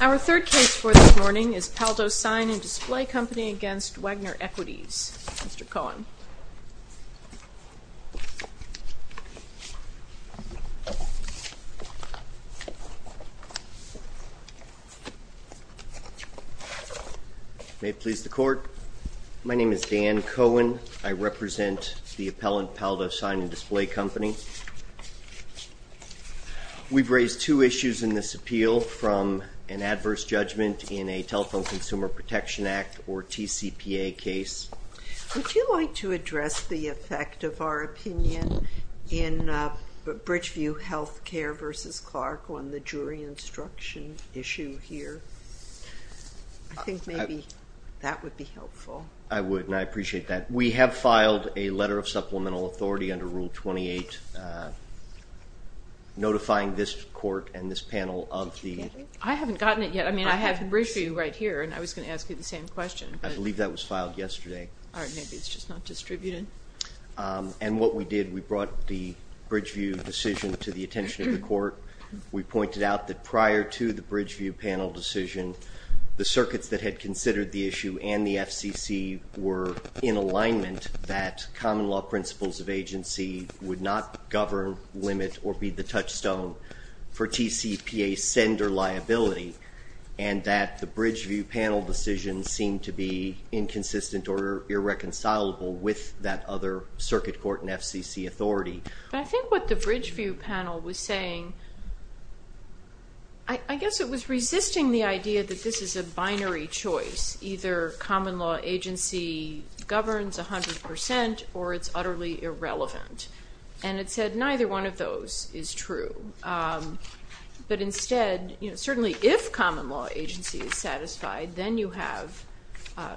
Our third case for this morning is Paldo Sign and Display Company v. Wagener Equities. Mr. Cohen. May it please the Court. My name is Dan Cohen. I represent the appellant, Paldo Sign and Display Company. We've raised two issues in this appeal from an adverse judgment in a Telephone Consumer Protection Act or TCPA case. Would you like to address the effect of our opinion in Bridgeview Healthcare v. Clark on the jury instruction issue here? I think maybe that would be helpful. I would and I appreciate that. We have filed a letter of supplemental authority under Rule 28 notifying this Court and this panel of the... I haven't gotten it yet. I mean, I have Bridgeview right here and I was going to ask you the same question. And what we did, we brought the Bridgeview decision to the attention of the Court. We pointed out that prior to the Bridgeview panel decision, the circuits that had considered the issue and the FCC were in alignment that common law principles of agency would not govern, limit, or be the touchstone for TCPA sender liability and that the Bridgeview panel decision seemed to be inconsistent or irreconcilable with that other circuit court and FCC authority. But I think what the Bridgeview panel was saying, I guess it was resisting the idea that this is a binary choice. Either common law agency governs 100% or it's utterly irrelevant. And it said neither one of those is true. But instead, certainly if common law agency is satisfied, then you have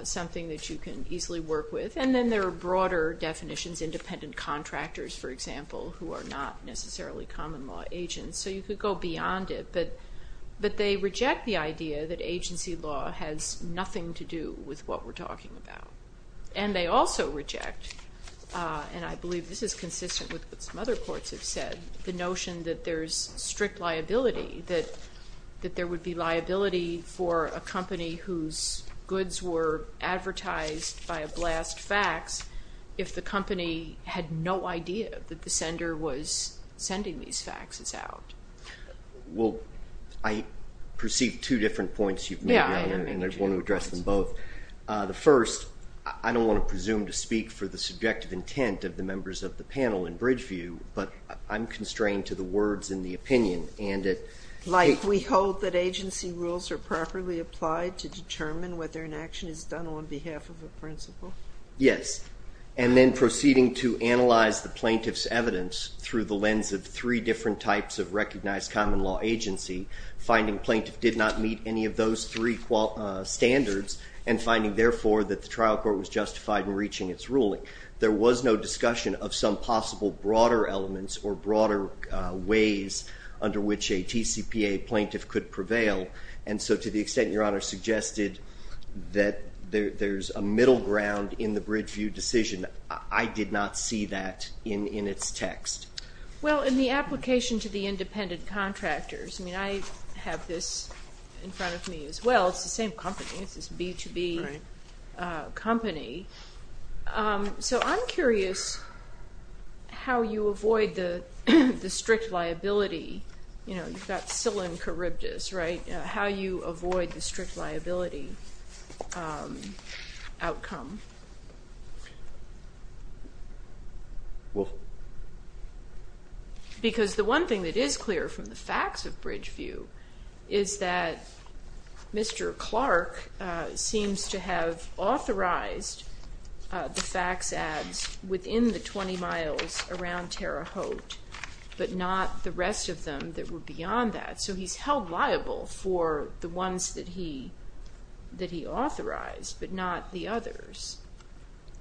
something that you can easily work with. And then there are broader definitions, independent contractors, for example, who are not necessarily common law agents. So you could go beyond it, but they reject the idea that agency law has nothing to do with what we're talking about. And they also reject, and I believe this is consistent with what some other courts have said, the notion that there's strict liability, that there would be liability for a company whose goods were advertised by a blast factory if the company had no idea that the sender was sending these faxes out. Well, I perceive two different points you've made, and I want to address them both. The first, I don't want to presume to speak for the subjective intent of the members of the panel in Bridgeview, but I'm constrained to the words and the opinion. Like we hope that agency rules are properly applied to determine whether an action is done on behalf of a principal? Yes. And then proceeding to analyze the plaintiff's evidence through the lens of three different types of recognized common law agency, finding plaintiff did not meet any of those three standards, and finding, therefore, that the trial court was justified in reaching its ruling. There was no discussion of some possible broader elements or broader ways under which a TCPA plaintiff could prevail. And so to the extent Your Honor suggested that there's a middle ground in the Bridgeview decision, I did not see that in its text. Well, in the application to the independent contractors, I mean, I have this in front of me as well. It's the same company. It's this B2B company. So I'm curious how you avoid the strict liability. You've got psyllium charybdis, right? How you avoid the strict liability outcome? Well... Because the one thing that is clear from the facts of Bridgeview is that Mr. Clark seems to have authorized the fax ads within the 20 miles around Terre Haute, but not the rest of them that were beyond that. So he's held liable for the ones that he authorized, but not the others.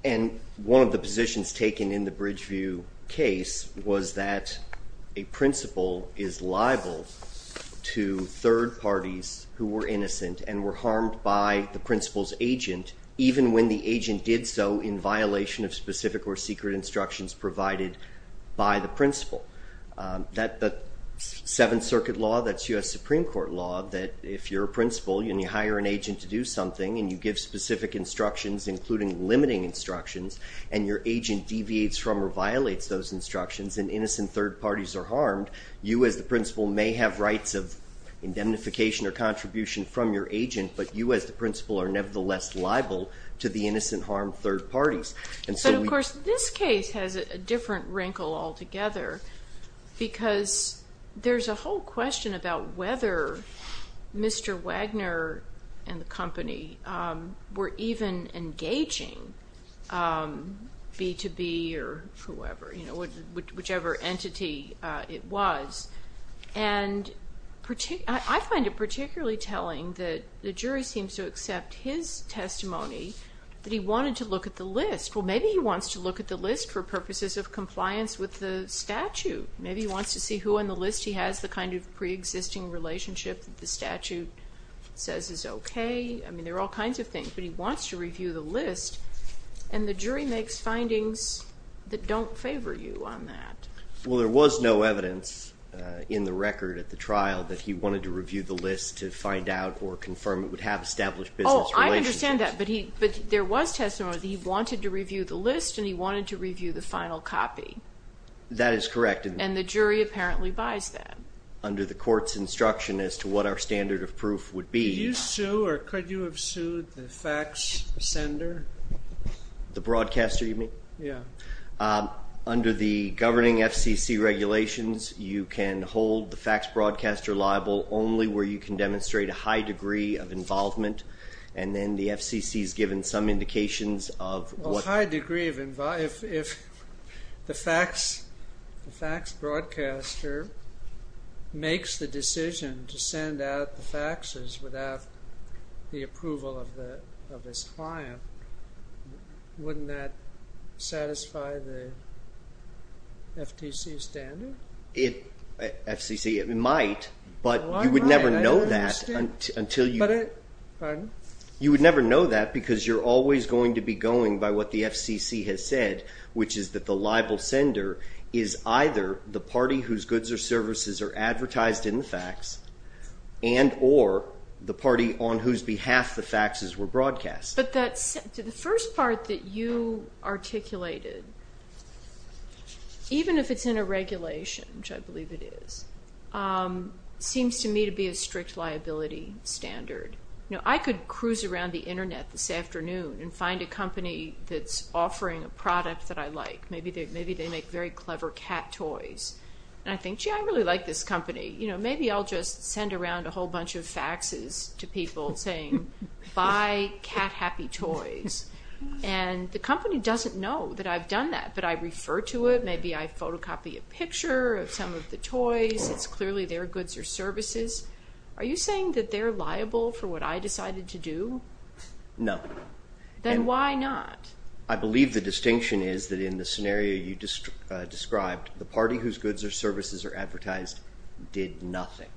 And one of the positions taken in the Bridgeview case was that a principal is liable to third parties who were innocent and were harmed by the principal's agent, even when the agent did so in violation of specific or secret instructions provided by the principal. The Seventh Circuit law, that's U.S. Supreme Court law, that if you're a principal and you hire an agent to do something and you give specific instructions, including limiting instructions, and your agent deviates from or violates those instructions and innocent third parties are harmed, you as the principal may have rights of indemnification or contribution from your agent, but you as the principal are nevertheless liable to the innocent harmed third parties. But of course this case has a different wrinkle altogether, because there's a whole question about whether Mr. Wagner and the company were even engaging B2B or whoever, whichever entity it was. And I find it particularly telling that the jury seems to accept his testimony that he wanted to look at the list. Well, maybe he wants to look at the list for purposes of compliance with the statute. Maybe he wants to see who on the list he has, the kind of preexisting relationship that the statute says is okay. I mean, there are all kinds of things, but he wants to review the list, and the jury makes findings that don't favor you on that. Well, there was no evidence in the record at the trial that he wanted to review the list to find out or confirm it would have established business relationships. I understand that, but there was testimony that he wanted to review the list and he wanted to review the final copy. That is correct. And the jury apparently buys that. Under the court's instruction as to what our standard of proof would be. Did you sue or could you have sued the fax sender? The broadcaster you mean? Yeah. Under the governing FCC regulations, you can hold the fax broadcaster liable only where you can demonstrate a high degree of involvement. And then the FCC has given some indications of what... If the fax broadcaster makes the decision to send out the faxes without the approval of his client, wouldn't that satisfy the FCC standard? FCC, it might, but you would never know that until you... Pardon? You would never know that because you're always going to be going by what the FCC has said, which is that the liable sender is either the party whose goods or services are advertised in the fax and or the party on whose behalf the faxes were broadcast. But the first part that you articulated, even if it's in a regulation, which I believe it is, seems to me to be a strict liability standard. I could cruise around the Internet this afternoon and find a company that's offering a product that I like. Maybe they make very clever cat toys. And I think, gee, I really like this company. Maybe I'll just send around a whole bunch of faxes to people saying, buy cat-happy toys. And the company doesn't know that I've done that, but I refer to it. Maybe I photocopy a picture of some of the toys. It's clearly their goods or services. Are you saying that they're liable for what I decided to do? No. Then why not? I believe the distinction is that in the scenario you just described, the party whose goods or services are advertised did nothing.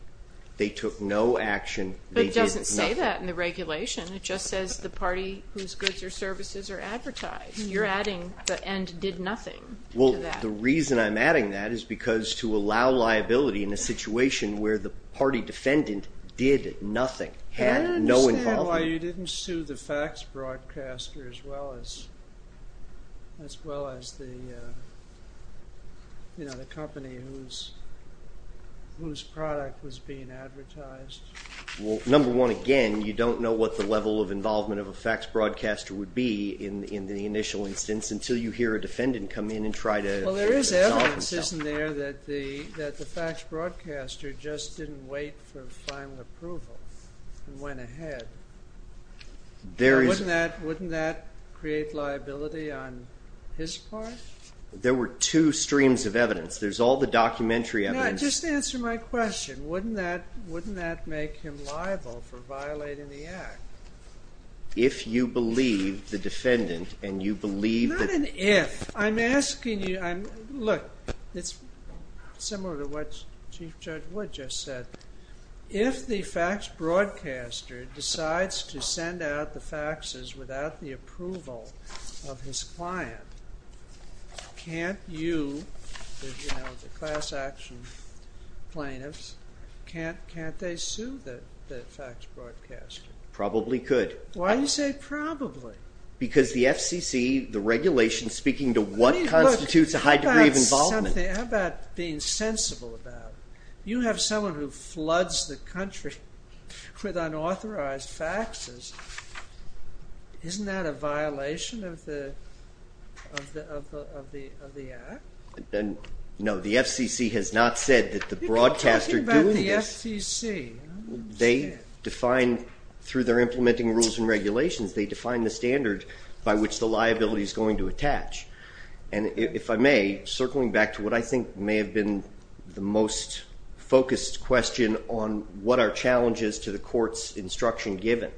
They took no action. But it doesn't say that in the regulation. It just says the party whose goods or services are advertised. You're adding the end did nothing to that. The reason I'm adding that is because to allow liability in a situation where the party defendant did nothing, had no involvement. I don't understand why you didn't sue the fax broadcaster as well as the company whose product was being advertised. Number one, again, you don't know what the level of involvement of a fax broadcaster would be in the initial instance until you hear a defendant come in and try to exalt himself. Well, there is evidence, isn't there, that the fax broadcaster just didn't wait for final approval and went ahead? Wouldn't that create liability on his part? There were two streams of evidence. There's all the documentary evidence. Just answer my question. Wouldn't that make him liable for violating the act? If you believe the defendant and you believe that… Not an if. I'm asking you. Look, it's similar to what Chief Judge Wood just said. If the fax broadcaster decides to send out the faxes without the approval of his client, can't you, the class action plaintiffs, can't they sue the fax broadcaster? Probably could. Why do you say probably? Because the FCC, the regulation speaking to what constitutes a high degree of involvement. How about being sensible about it? You have someone who floods the country with unauthorized faxes. Isn't that a violation of the act? No, the FCC has not said that the broadcaster doing this… You're talking about the FCC. They define, through their implementing rules and regulations, they define the standard by which the liability is going to attach. And if I may, circling back to what I think may have been the most focused question on what are challenges to the court's instruction given.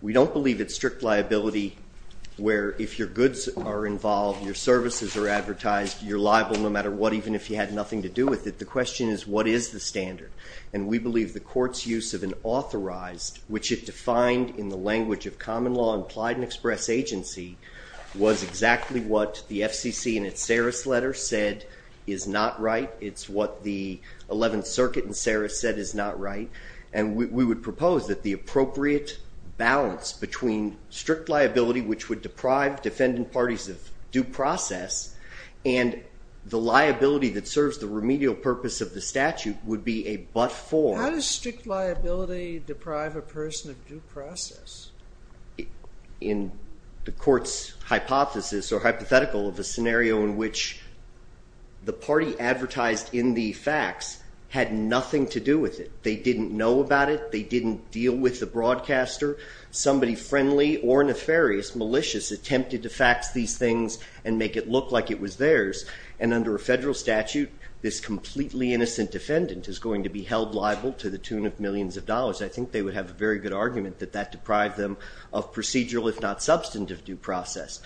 We don't believe it's strict liability where if your goods are involved, your services are advertised, you're liable no matter what, even if you had nothing to do with it. The question is, what is the standard? And we believe the court's use of an authorized, which it defined in the language of common law and implied and express agency, was exactly what the FCC in its Saris letter said is not right. It's what the 11th Circuit in Saris said is not right. And we would propose that the appropriate balance between strict liability, which would deprive defendant parties of due process, and the liability that serves the remedial purpose of the statute would be a but-for. How does strict liability deprive a person of due process? In the court's hypothesis or hypothetical of a scenario in which the party advertised in the facts had nothing to do with it. They didn't know about it. They didn't deal with the broadcaster. Somebody friendly or nefarious, malicious, attempted to fax these things and make it look like it was theirs. And under a federal statute, this completely innocent defendant is going to be held liable to the tune of millions of dollars. I think they would have a very good argument that that deprived them of procedural, if not substantive, due process.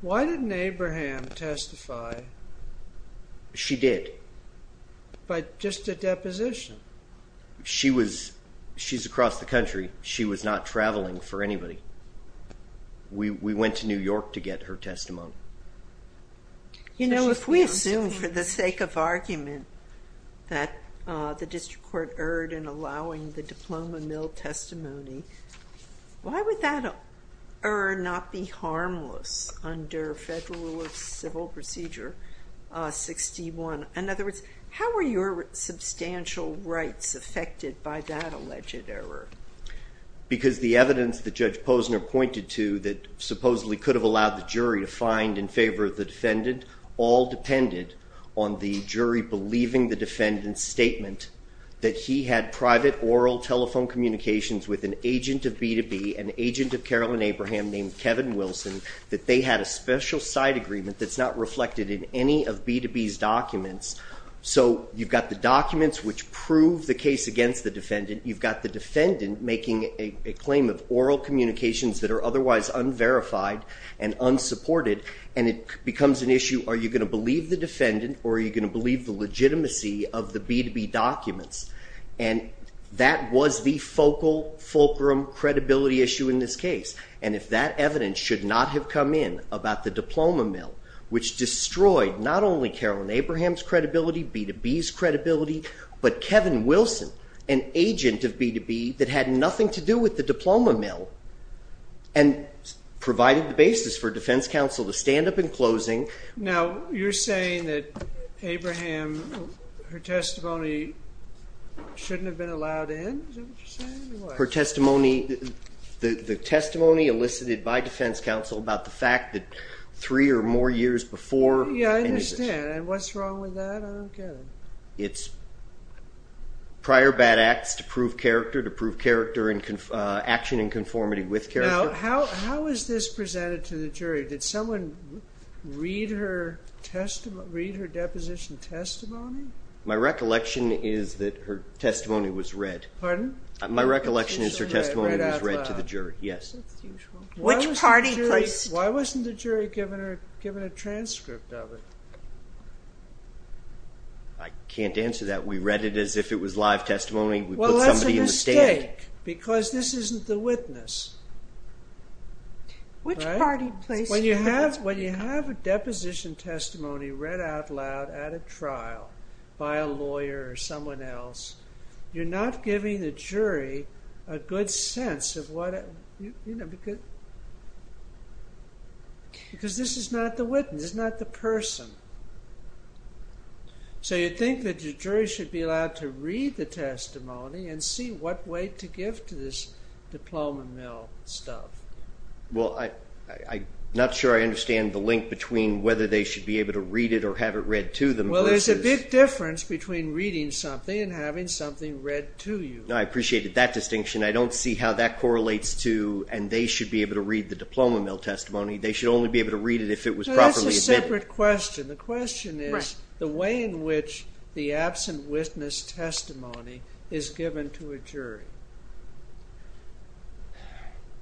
Why didn't Abraham testify? She did. By just a deposition? She's across the country. She was not traveling for anybody. We went to New York to get her testimony. You know, if we assume for the sake of argument that the district court erred in allowing the diploma mill testimony, why would that error not be harmless under Federal Rule of Civil Procedure 61? In other words, how were your substantial rights affected by that alleged error? Because the evidence that Judge Posner pointed to that supposedly could have allowed the jury to find in favor of the defendant all depended on the jury believing the defendant's statement that he had private oral telephone communications with an agent of B2B, an agent of Carolyn Abraham named Kevin Wilson, that they had a special side agreement that's not reflected in any of B2B's documents. So you've got the documents which prove the case against the defendant. You've got the defendant making a claim of oral communications that are otherwise unverified and unsupported, and it becomes an issue, are you going to believe the defendant or are you going to believe the legitimacy of the B2B documents? And that was the focal, fulcrum credibility issue in this case. And if that evidence should not have come in about the diploma mill, which destroyed not only Carolyn Abraham's credibility, B2B's credibility, but Kevin Wilson, an agent of B2B that had nothing to do with the diploma mill and provided the basis for defense counsel to stand up in closing. Now, you're saying that Abraham, her testimony shouldn't have been allowed in? Her testimony, the testimony elicited by defense counsel about the fact that three or more years before... Yeah, I understand. And what's wrong with that? I don't get it. It's prior bad acts to prove character, to prove action in conformity with character. Now, how is this presented to the jury? Did someone read her deposition testimony? My recollection is that her testimony was read. Pardon? My recollection is her testimony was read to the jury, yes. Which party placed... Why wasn't the jury given a transcript of it? I can't answer that. We read it as if it was live testimony. Well, that's a mistake because this isn't the witness. Which party placed... When you have a deposition testimony read out loud at a trial by a lawyer or someone else, you're not giving the jury a good sense of what... Because this is not the witness, this is not the person. So you think that the jury should be allowed to read the testimony and see what way to give to this diploma mill stuff. Well, I'm not sure I understand the link between whether they should be able to read it or have it read to them. Well, there's a big difference between reading something and having something read to you. I appreciated that distinction. I don't see how that correlates to, and they should be able to read the diploma mill testimony. They should only be able to read it if it was properly admitted. That's a separate question. The question is the way in which the absent witness testimony is given to a jury.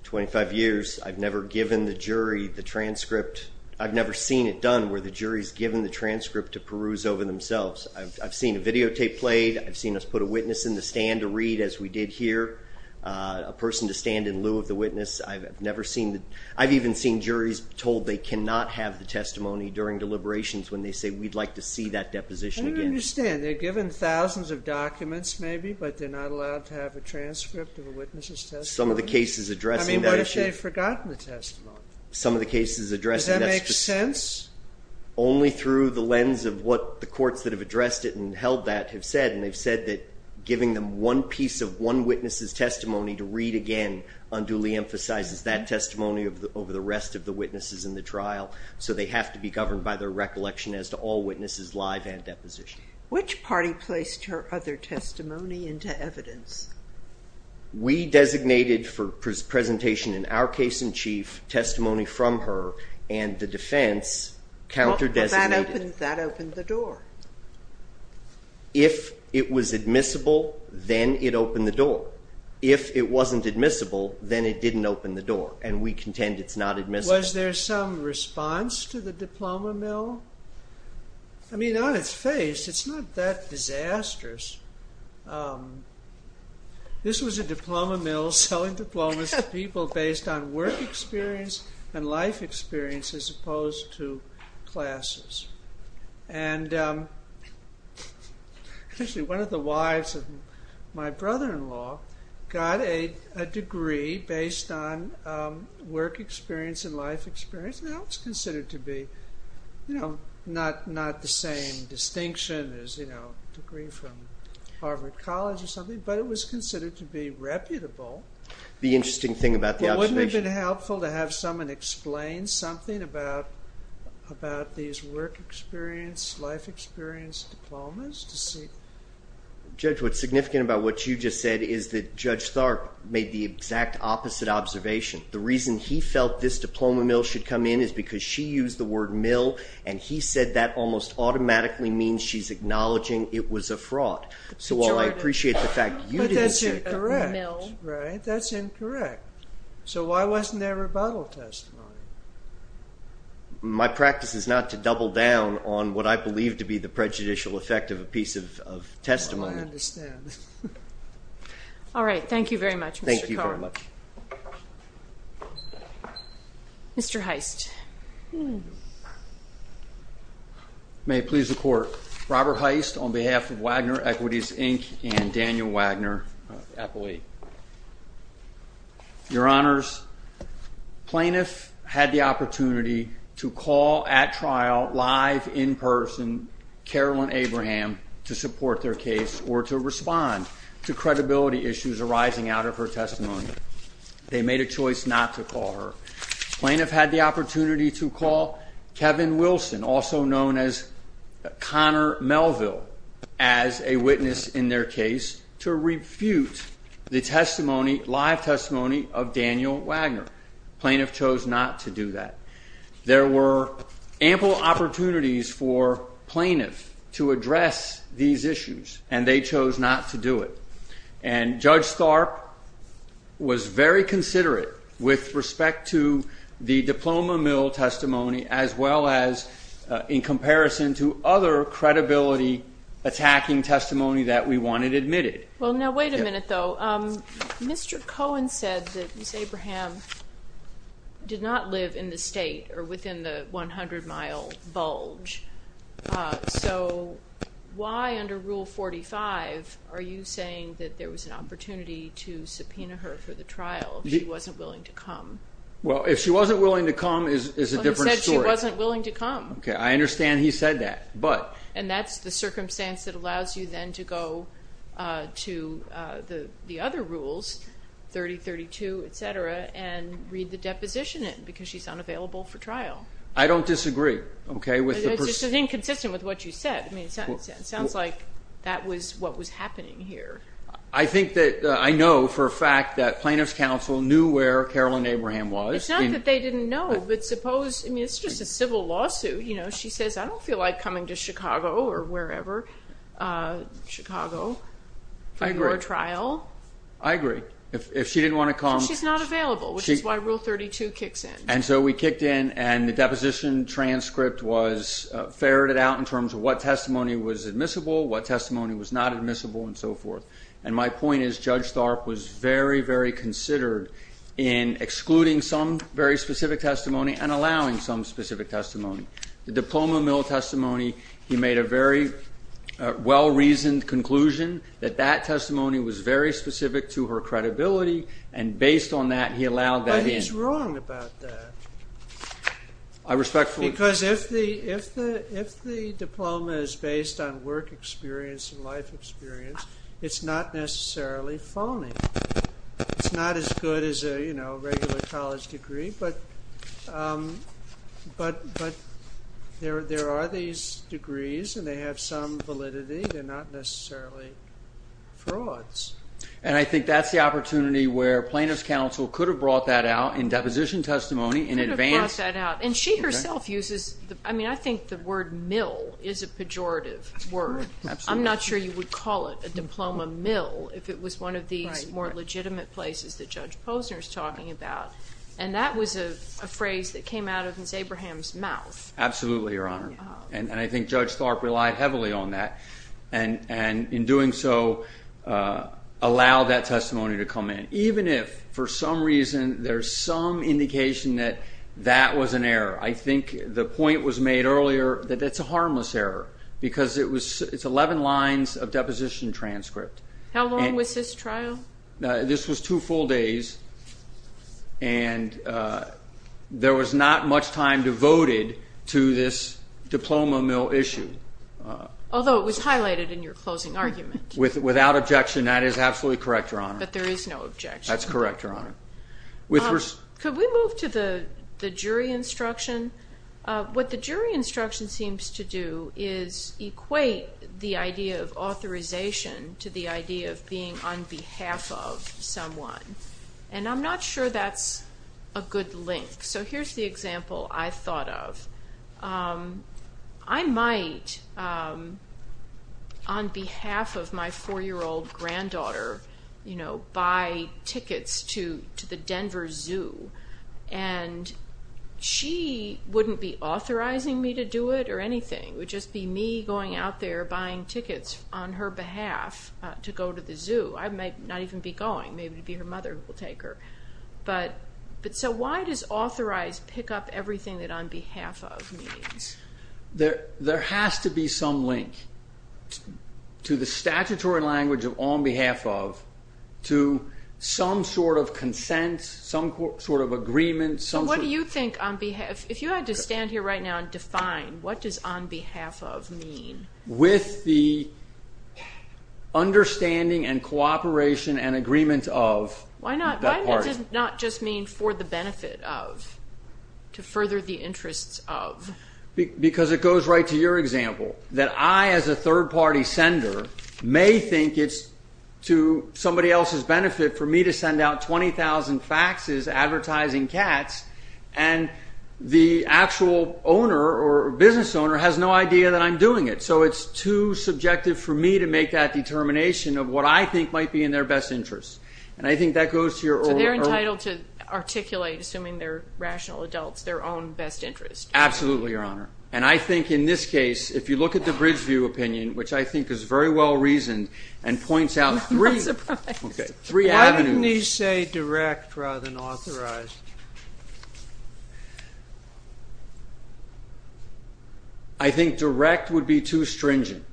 Twenty-five years, I've never given the jury the transcript. I've never seen it done where the jury's given the transcript to peruse over themselves. I've seen a videotape played. I've seen us put a witness in the stand to read, as we did here, a person to stand in lieu of the witness. I've even seen juries told they cannot have the testimony during deliberations when they say, we'd like to see that deposition again. I don't understand. They're given thousands of documents maybe, but they're not allowed to have a transcript of a witness's testimony? Some of the cases addressing that issue... I mean, what if they've forgotten the testimony? Some of the cases addressing that... Does that make sense? Only through the lens of what the courts that have addressed it and held that have said, and they've said that giving them one piece of one witness's testimony to read again unduly emphasizes that testimony over the rest of the witnesses in the trial, so they have to be governed by their recollection as to all witnesses live and deposition. Which party placed her other testimony into evidence? We designated for presentation in our case in chief testimony from her, and the defense counter-designated. That opened the door. If it was admissible, then it opened the door. If it wasn't admissible, then it didn't open the door, and we contend it's not admissible. Was there some response to the diploma mill? I mean, on its face, it's not that disastrous. This was a diploma mill selling diplomas to people based on work experience and life experience as opposed to classes. One of the wives of my brother-in-law got a degree based on work experience and life experience, and that was considered to be not the same distinction as a degree from Harvard College or something, but it was considered to be reputable. The interesting thing about the observation? Wouldn't it have been helpful to have someone explain something about these work experience, life experience diplomas to see? Judge, what's significant about what you just said is that Judge Tharp made the exact opposite observation. The reason he felt this diploma mill should come in is because she used the word mill, and he said that almost automatically means she's acknowledging it was a fraud. So while I appreciate the fact you didn't say a mill. But that's incorrect, right? That's incorrect. So why wasn't there rebuttal testimony? My practice is not to double down on what I believe to be the prejudicial effect of a piece of testimony. I understand. All right. Thank you very much, Mr. Carter. Mr. Heist. May it please the Court, Robert Heist on behalf of Wagner Equities, Inc. and Daniel Wagner, appellee. Your Honors, plaintiff had the opportunity to call at trial, live, in person, to support their case or to respond to credibility issues arising out of her testimony. They made a choice not to call her. Plaintiff had the opportunity to call Kevin Wilson, also known as Connor Melville, as a witness in their case to refute the testimony, live testimony, of Daniel Wagner. Plaintiff chose not to do that. There were ample opportunities for plaintiff to address these issues, and they chose not to do it. And Judge Tharp was very considerate with respect to the diploma mill testimony as well as in comparison to other credibility attacking testimony that we wanted admitted. Well, now, wait a minute, though. Mr. Cohen said that Ms. Abraham did not live in the state or within the 100-mile bulge. So why under Rule 45 are you saying that there was an opportunity to subpoena her for the trial if she wasn't willing to come? Well, if she wasn't willing to come is a different story. Well, he said she wasn't willing to come. Okay, I understand he said that. And that's the circumstance that allows you then to go to the other rules, 3032, et cetera, and read the deposition in because she's unavailable for trial. I don't disagree. It's just inconsistent with what you said. It sounds like that was what was happening here. I think that I know for a fact that Plaintiff's counsel knew where Carolyn Abraham was. It's not that they didn't know, but suppose, I mean, it's just a civil lawsuit. You know, she says, I don't feel like coming to Chicago or wherever, Chicago, for your trial. I agree. If she didn't want to come. She's not available, which is why Rule 32 kicks in. And so we kicked in, and the deposition transcript was ferreted out in terms of what testimony was admissible, what testimony was not admissible, and so forth. And my point is Judge Tharp was very, very considered in excluding some very specific testimony and allowing some specific testimony. The diploma mill testimony, he made a very well-reasoned conclusion that that testimony was very specific to her credibility, and based on that, he allowed that in. But he's wrong about that. I respectfully disagree. Because if the diploma is based on work experience and life experience, it's not necessarily phony. It's not as good as a, you know, regular college degree. But there are these degrees, and they have some validity. They're not necessarily frauds. And I think that's the opportunity where plaintiff's counsel could have brought that out in deposition testimony in advance. Could have brought that out. And she herself uses, I mean, I think the word mill is a pejorative word. I'm not sure you would call it a diploma mill if it was one of these more legitimate places that Judge Posner is talking about. And that was a phrase that came out of Ms. Abraham's mouth. Absolutely, Your Honor. And I think Judge Tharp relied heavily on that, and in doing so, allowed that testimony to come in. Even if, for some reason, there's some indication that that was an error, I think the point was made earlier that it's a harmless error because it's 11 lines of deposition transcript. How long was this trial? This was two full days, and there was not much time devoted to this diploma mill issue. Although it was highlighted in your closing argument. Without objection, that is absolutely correct, Your Honor. But there is no objection. That's correct, Your Honor. Could we move to the jury instruction? What the jury instruction seems to do is equate the idea of authorization to the idea of being on behalf of someone. And I'm not sure that's a good link. So here's the example I thought of. I might, on behalf of my four-year-old granddaughter, buy tickets to the Denver Zoo, and she wouldn't be authorizing me to do it or anything. It would just be me going out there buying tickets on her behalf to go to the zoo. I might not even be going. Maybe it would be her mother who would take her. So why does authorize pick up everything that on behalf of means? There has to be some link to the statutory language of on behalf of to some sort of consent, some sort of agreement. What do you think on behalf of? If you had to stand here right now and define what does on behalf of mean? With the understanding and cooperation and agreement of. Why not just mean for the benefit of, to further the interests of? Because it goes right to your example that I, as a third-party sender, may think it's to somebody else's benefit for me to send out 20,000 faxes advertising cats, and the actual owner or business owner has no idea that I'm doing it. So it's too subjective for me to make that determination of what I think might be in their best interest. So they're entitled to articulate, assuming they're rational adults, their own best interest. Absolutely, Your Honor. And I think in this case, if you look at the Bridgeview opinion, which I think is very well reasoned and points out three avenues. Why didn't he say direct rather than authorized? I think direct would be too stringent.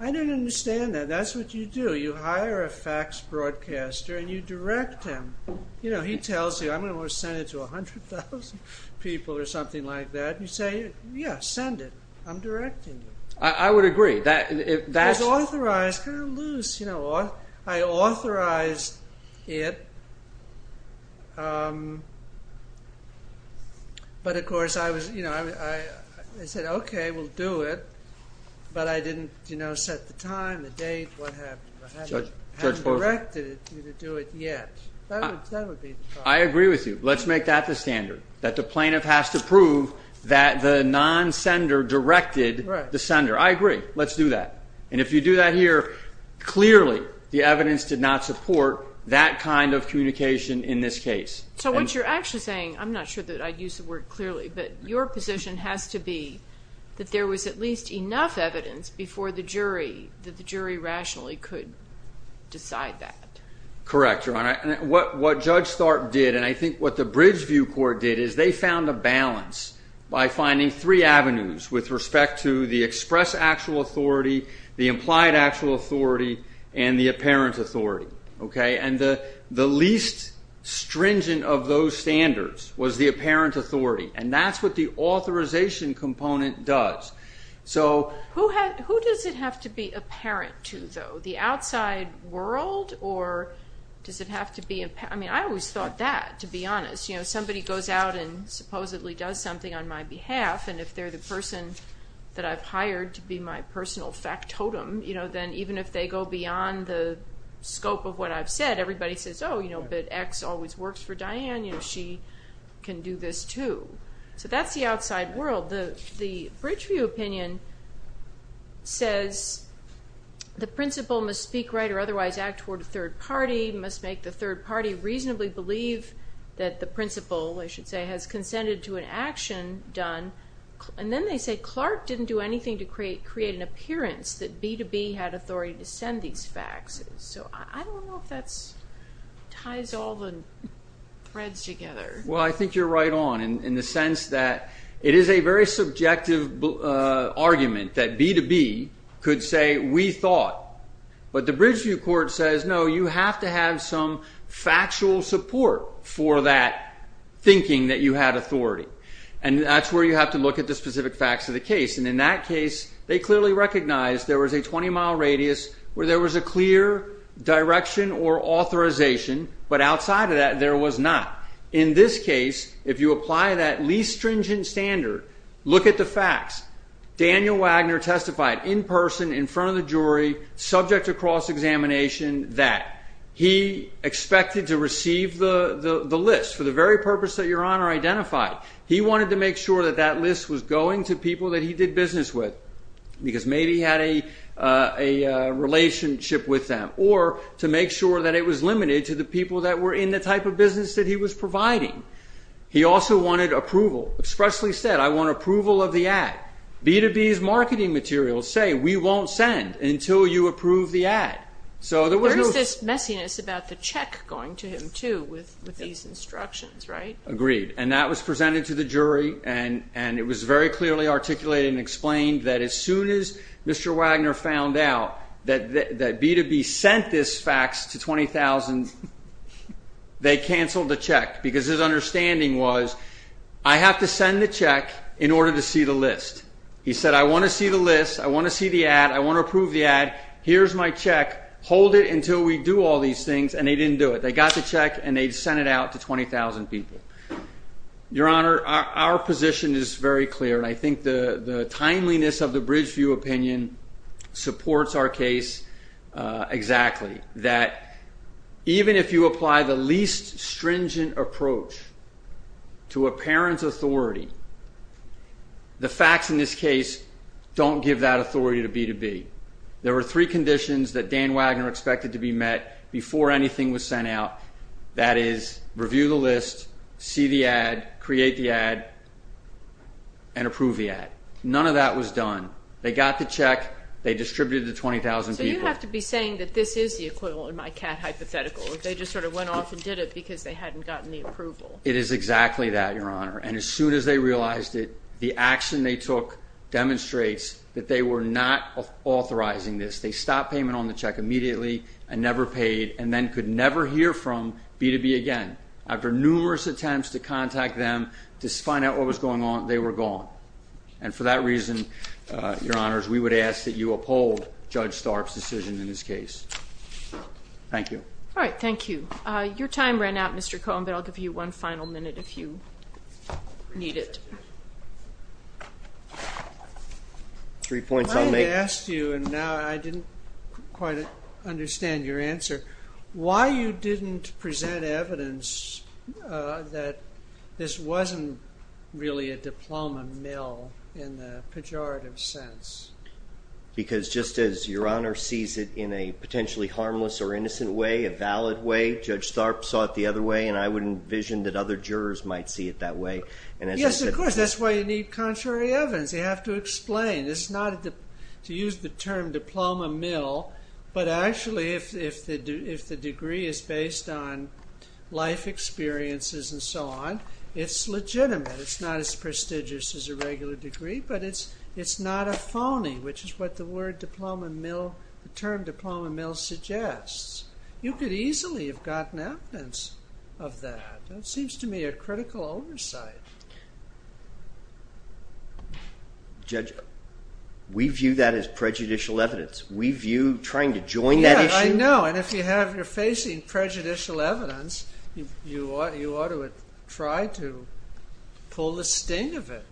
I don't understand that. That's what you do. You hire a fax broadcaster and you direct him. He tells you, I'm going to send it to 100,000 people or something like that. You say, yeah, send it. I'm directing you. I would agree. That's authorized. Kind of loose. I authorized it. But, of course, I said, OK, we'll do it. But I didn't set the time, the date, what happened. I haven't directed you to do it yet. That would be the problem. I agree with you. Let's make that the standard, that the plaintiff has to prove that the non-sender directed the sender. I agree. Let's do that. And if you do that here, clearly the evidence did not support that kind of communication in this case. So what you're actually saying, I'm not sure that I'd use the word clearly, but your position has to be that there was at least enough evidence before the jury, that the jury rationally could decide that. Correct, Your Honor. What Judge Tharp did, and I think what the Bridgeview Court did, is they found a balance by finding three avenues with respect to the express actual authority, the implied actual authority, and the apparent authority. And the least stringent of those standards was the apparent authority. And that's what the authorization component does. Who does it have to be apparent to, though? The outside world, or does it have to be apparent? I mean, I always thought that, to be honest. Somebody goes out and supposedly does something on my behalf, and if they're the person that I've hired to be my personal factotum, then even if they go beyond the scope of what I've said, everybody says, oh, but X always works for Diane. She can do this, too. So that's the outside world. The Bridgeview opinion says the principal must speak right or otherwise act toward a third party, must make the third party reasonably believe that the principal, I should say, has consented to an action done. And then they say Clark didn't do anything to create an appearance that B to B had authority to send these faxes. So I don't know if that ties all the threads together. Well, I think you're right on in the sense that it is a very subjective argument that B to B could say we thought. But the Bridgeview court says, no, you have to have some factual support for that thinking that you had authority. And that's where you have to look at the specific facts of the case. And in that case, they clearly recognized there was a 20-mile radius where there was a clear direction or authorization, but outside of that, there was not. In this case, if you apply that least stringent standard, look at the facts. Daniel Wagner testified in person in front of the jury, subject to cross-examination, that he expected to receive the list for the very purpose that Your Honor identified. He wanted to make sure that that list was going to people that he did business with because maybe he had a relationship with them or to make sure that it was limited to the people that were in the type of business that he was providing. He also wanted approval, expressly said, I want approval of the ad. B to B's marketing materials say, we won't send until you approve the ad. So there was no... There is this messiness about the check going to him, too, with these instructions, right? Agreed. And that was presented to the jury, and it was very clearly articulated and explained that as soon as Mr. Wagner found out that B to B sent this fax to 20,000, they canceled the check. Because his understanding was, I have to send the check in order to see the list. He said, I want to see the list. I want to see the ad. I want to approve the ad. Here's my check. Hold it until we do all these things. And they didn't do it. They got the check, and they sent it out to 20,000 people. Your Honor, our position is very clear, and I think the timeliness of the Bridgeview opinion supports our case exactly. That even if you apply the least stringent approach to a parent's authority, the facts in this case don't give that authority to B to B. There were three conditions that Dan Wagner expected to be met before anything was sent out. That is, review the list, see the ad, create the ad, and approve the ad. None of that was done. They got the check. They distributed it to 20,000 people. So you have to be saying that this is the equivalent of my cat hypothetical. They just sort of went off and did it because they hadn't gotten the approval. It is exactly that, Your Honor. And as soon as they realized it, the action they took demonstrates that they were not authorizing this. They stopped payment on the check immediately and never paid and then could never hear from B to B again. After numerous attempts to contact them to find out what was going on, they were gone. And for that reason, Your Honors, we would ask that you uphold Judge Starb's decision in this case. Thank you. All right, thank you. Your time ran out, Mr. Cohn, but I'll give you one final minute if you need it. I had asked you, and now I didn't quite understand your answer, why you didn't present evidence that this wasn't really a diploma mill in the pejorative sense. Because just as Your Honor sees it in a potentially harmless or innocent way, a valid way, Judge Starb saw it the other way, and I would envision that other jurors might see it that way. Yes, of course. That's why you need contrary evidence. You have to explain. It's not to use the term diploma mill, but actually if the degree is based on life experiences and so on, it's legitimate. It's not as prestigious as a regular degree, but it's not a phony, which is what the term diploma mill suggests. You could easily have gotten evidence of that. It seems to me a critical oversight. Judge, we view that as prejudicial evidence. We view trying to join that issue. I know, and if you're facing prejudicial evidence, you ought to try to pull the sting of it.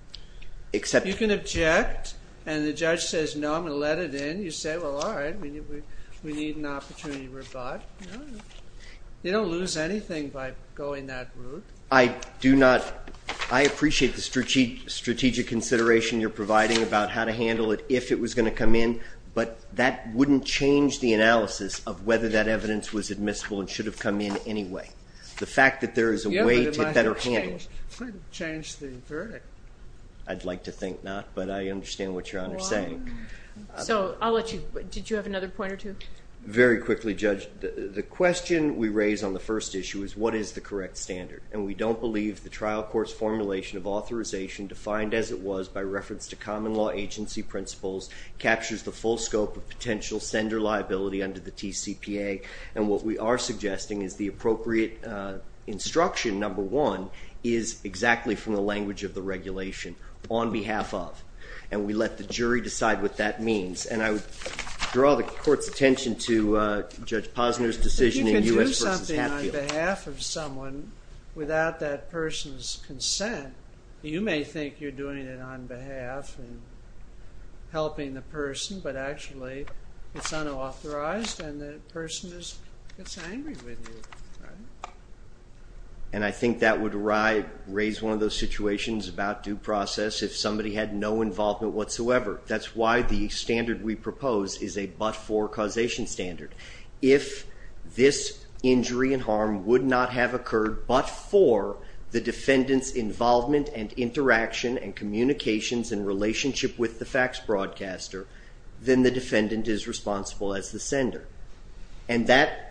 You can object, and the judge says, no, I'm going to let it in. You say, well, all right, we need an opportunity to rebut. You don't lose anything by going that route. I appreciate the strategic consideration you're providing about how to handle it if it was going to come in, but that wouldn't change the analysis of whether that evidence was admissible and should have come in anyway. The fact that there is a way to better handle it. It might have changed the verdict. I'd like to think not, but I understand what Your Honor is saying. So I'll let you, did you have another point or two? Very quickly, Judge. The question we raise on the first issue is what is the correct standard, and we don't believe the trial court's formulation of authorization defined as it was by reference to common law agency principles captures the full scope of potential sender liability under the TCPA. And what we are suggesting is the appropriate instruction, number one, is exactly from the language of the regulation, on behalf of. And we let the jury decide what that means. And I would draw the court's attention to Judge Posner's decision in U.S. v. Hatfield. If you can do something on behalf of someone without that person's consent, you may think you're doing it on behalf and helping the person, but actually it's unauthorized and the person gets angry with you, right? And I think that would raise one of those situations about due process if somebody had no involvement whatsoever. That's why the standard we propose is a but-for causation standard. If this injury and harm would not have occurred but for the defendant's involvement and interaction and communications and relationship with the fax broadcaster, then the defendant is responsible as the sender. And that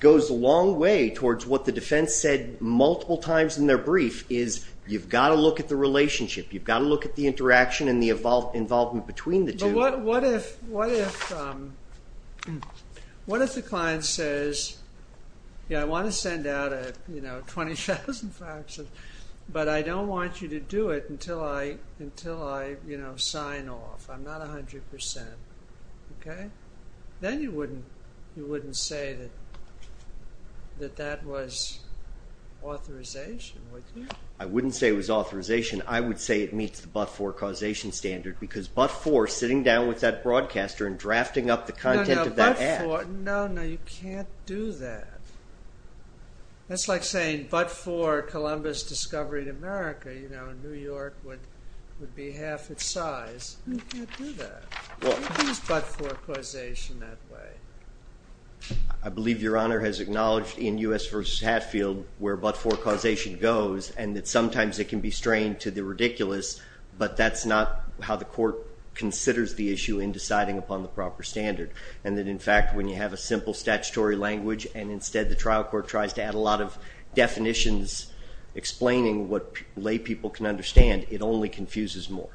goes a long way towards what the defense said multiple times in their brief, is you've got to look at the relationship. You've got to look at the interaction and the involvement between the two. What if the client says, yeah, I want to send out 20,000 faxes, but I don't want you to do it until I sign off. I'm not 100 percent. Okay? Then you wouldn't say that that was authorization, would you? I wouldn't say it was authorization. I would say it meets the but-for causation standard because but-for sitting down with that broadcaster and drafting up the content of that ad. No, no, but-for. No, no, you can't do that. That's like saying but-for Columbus discovery in America. You know, New York would be half its size. You can't do that. What is but-for causation that way? I believe Your Honor has acknowledged in U.S. v. Hatfield where but-for causation goes and that sometimes it can be strained to the ridiculous, but that's not how the court considers the issue in deciding upon the proper standard and that, in fact, when you have a simple statutory language and instead the trial court tries to add a lot of definitions explaining what lay people can understand, it only confuses more.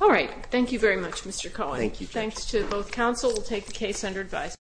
All right. Thank you very much, Mr. Cohen. Thank you. Thanks to both counsel. We'll take the case under advisory.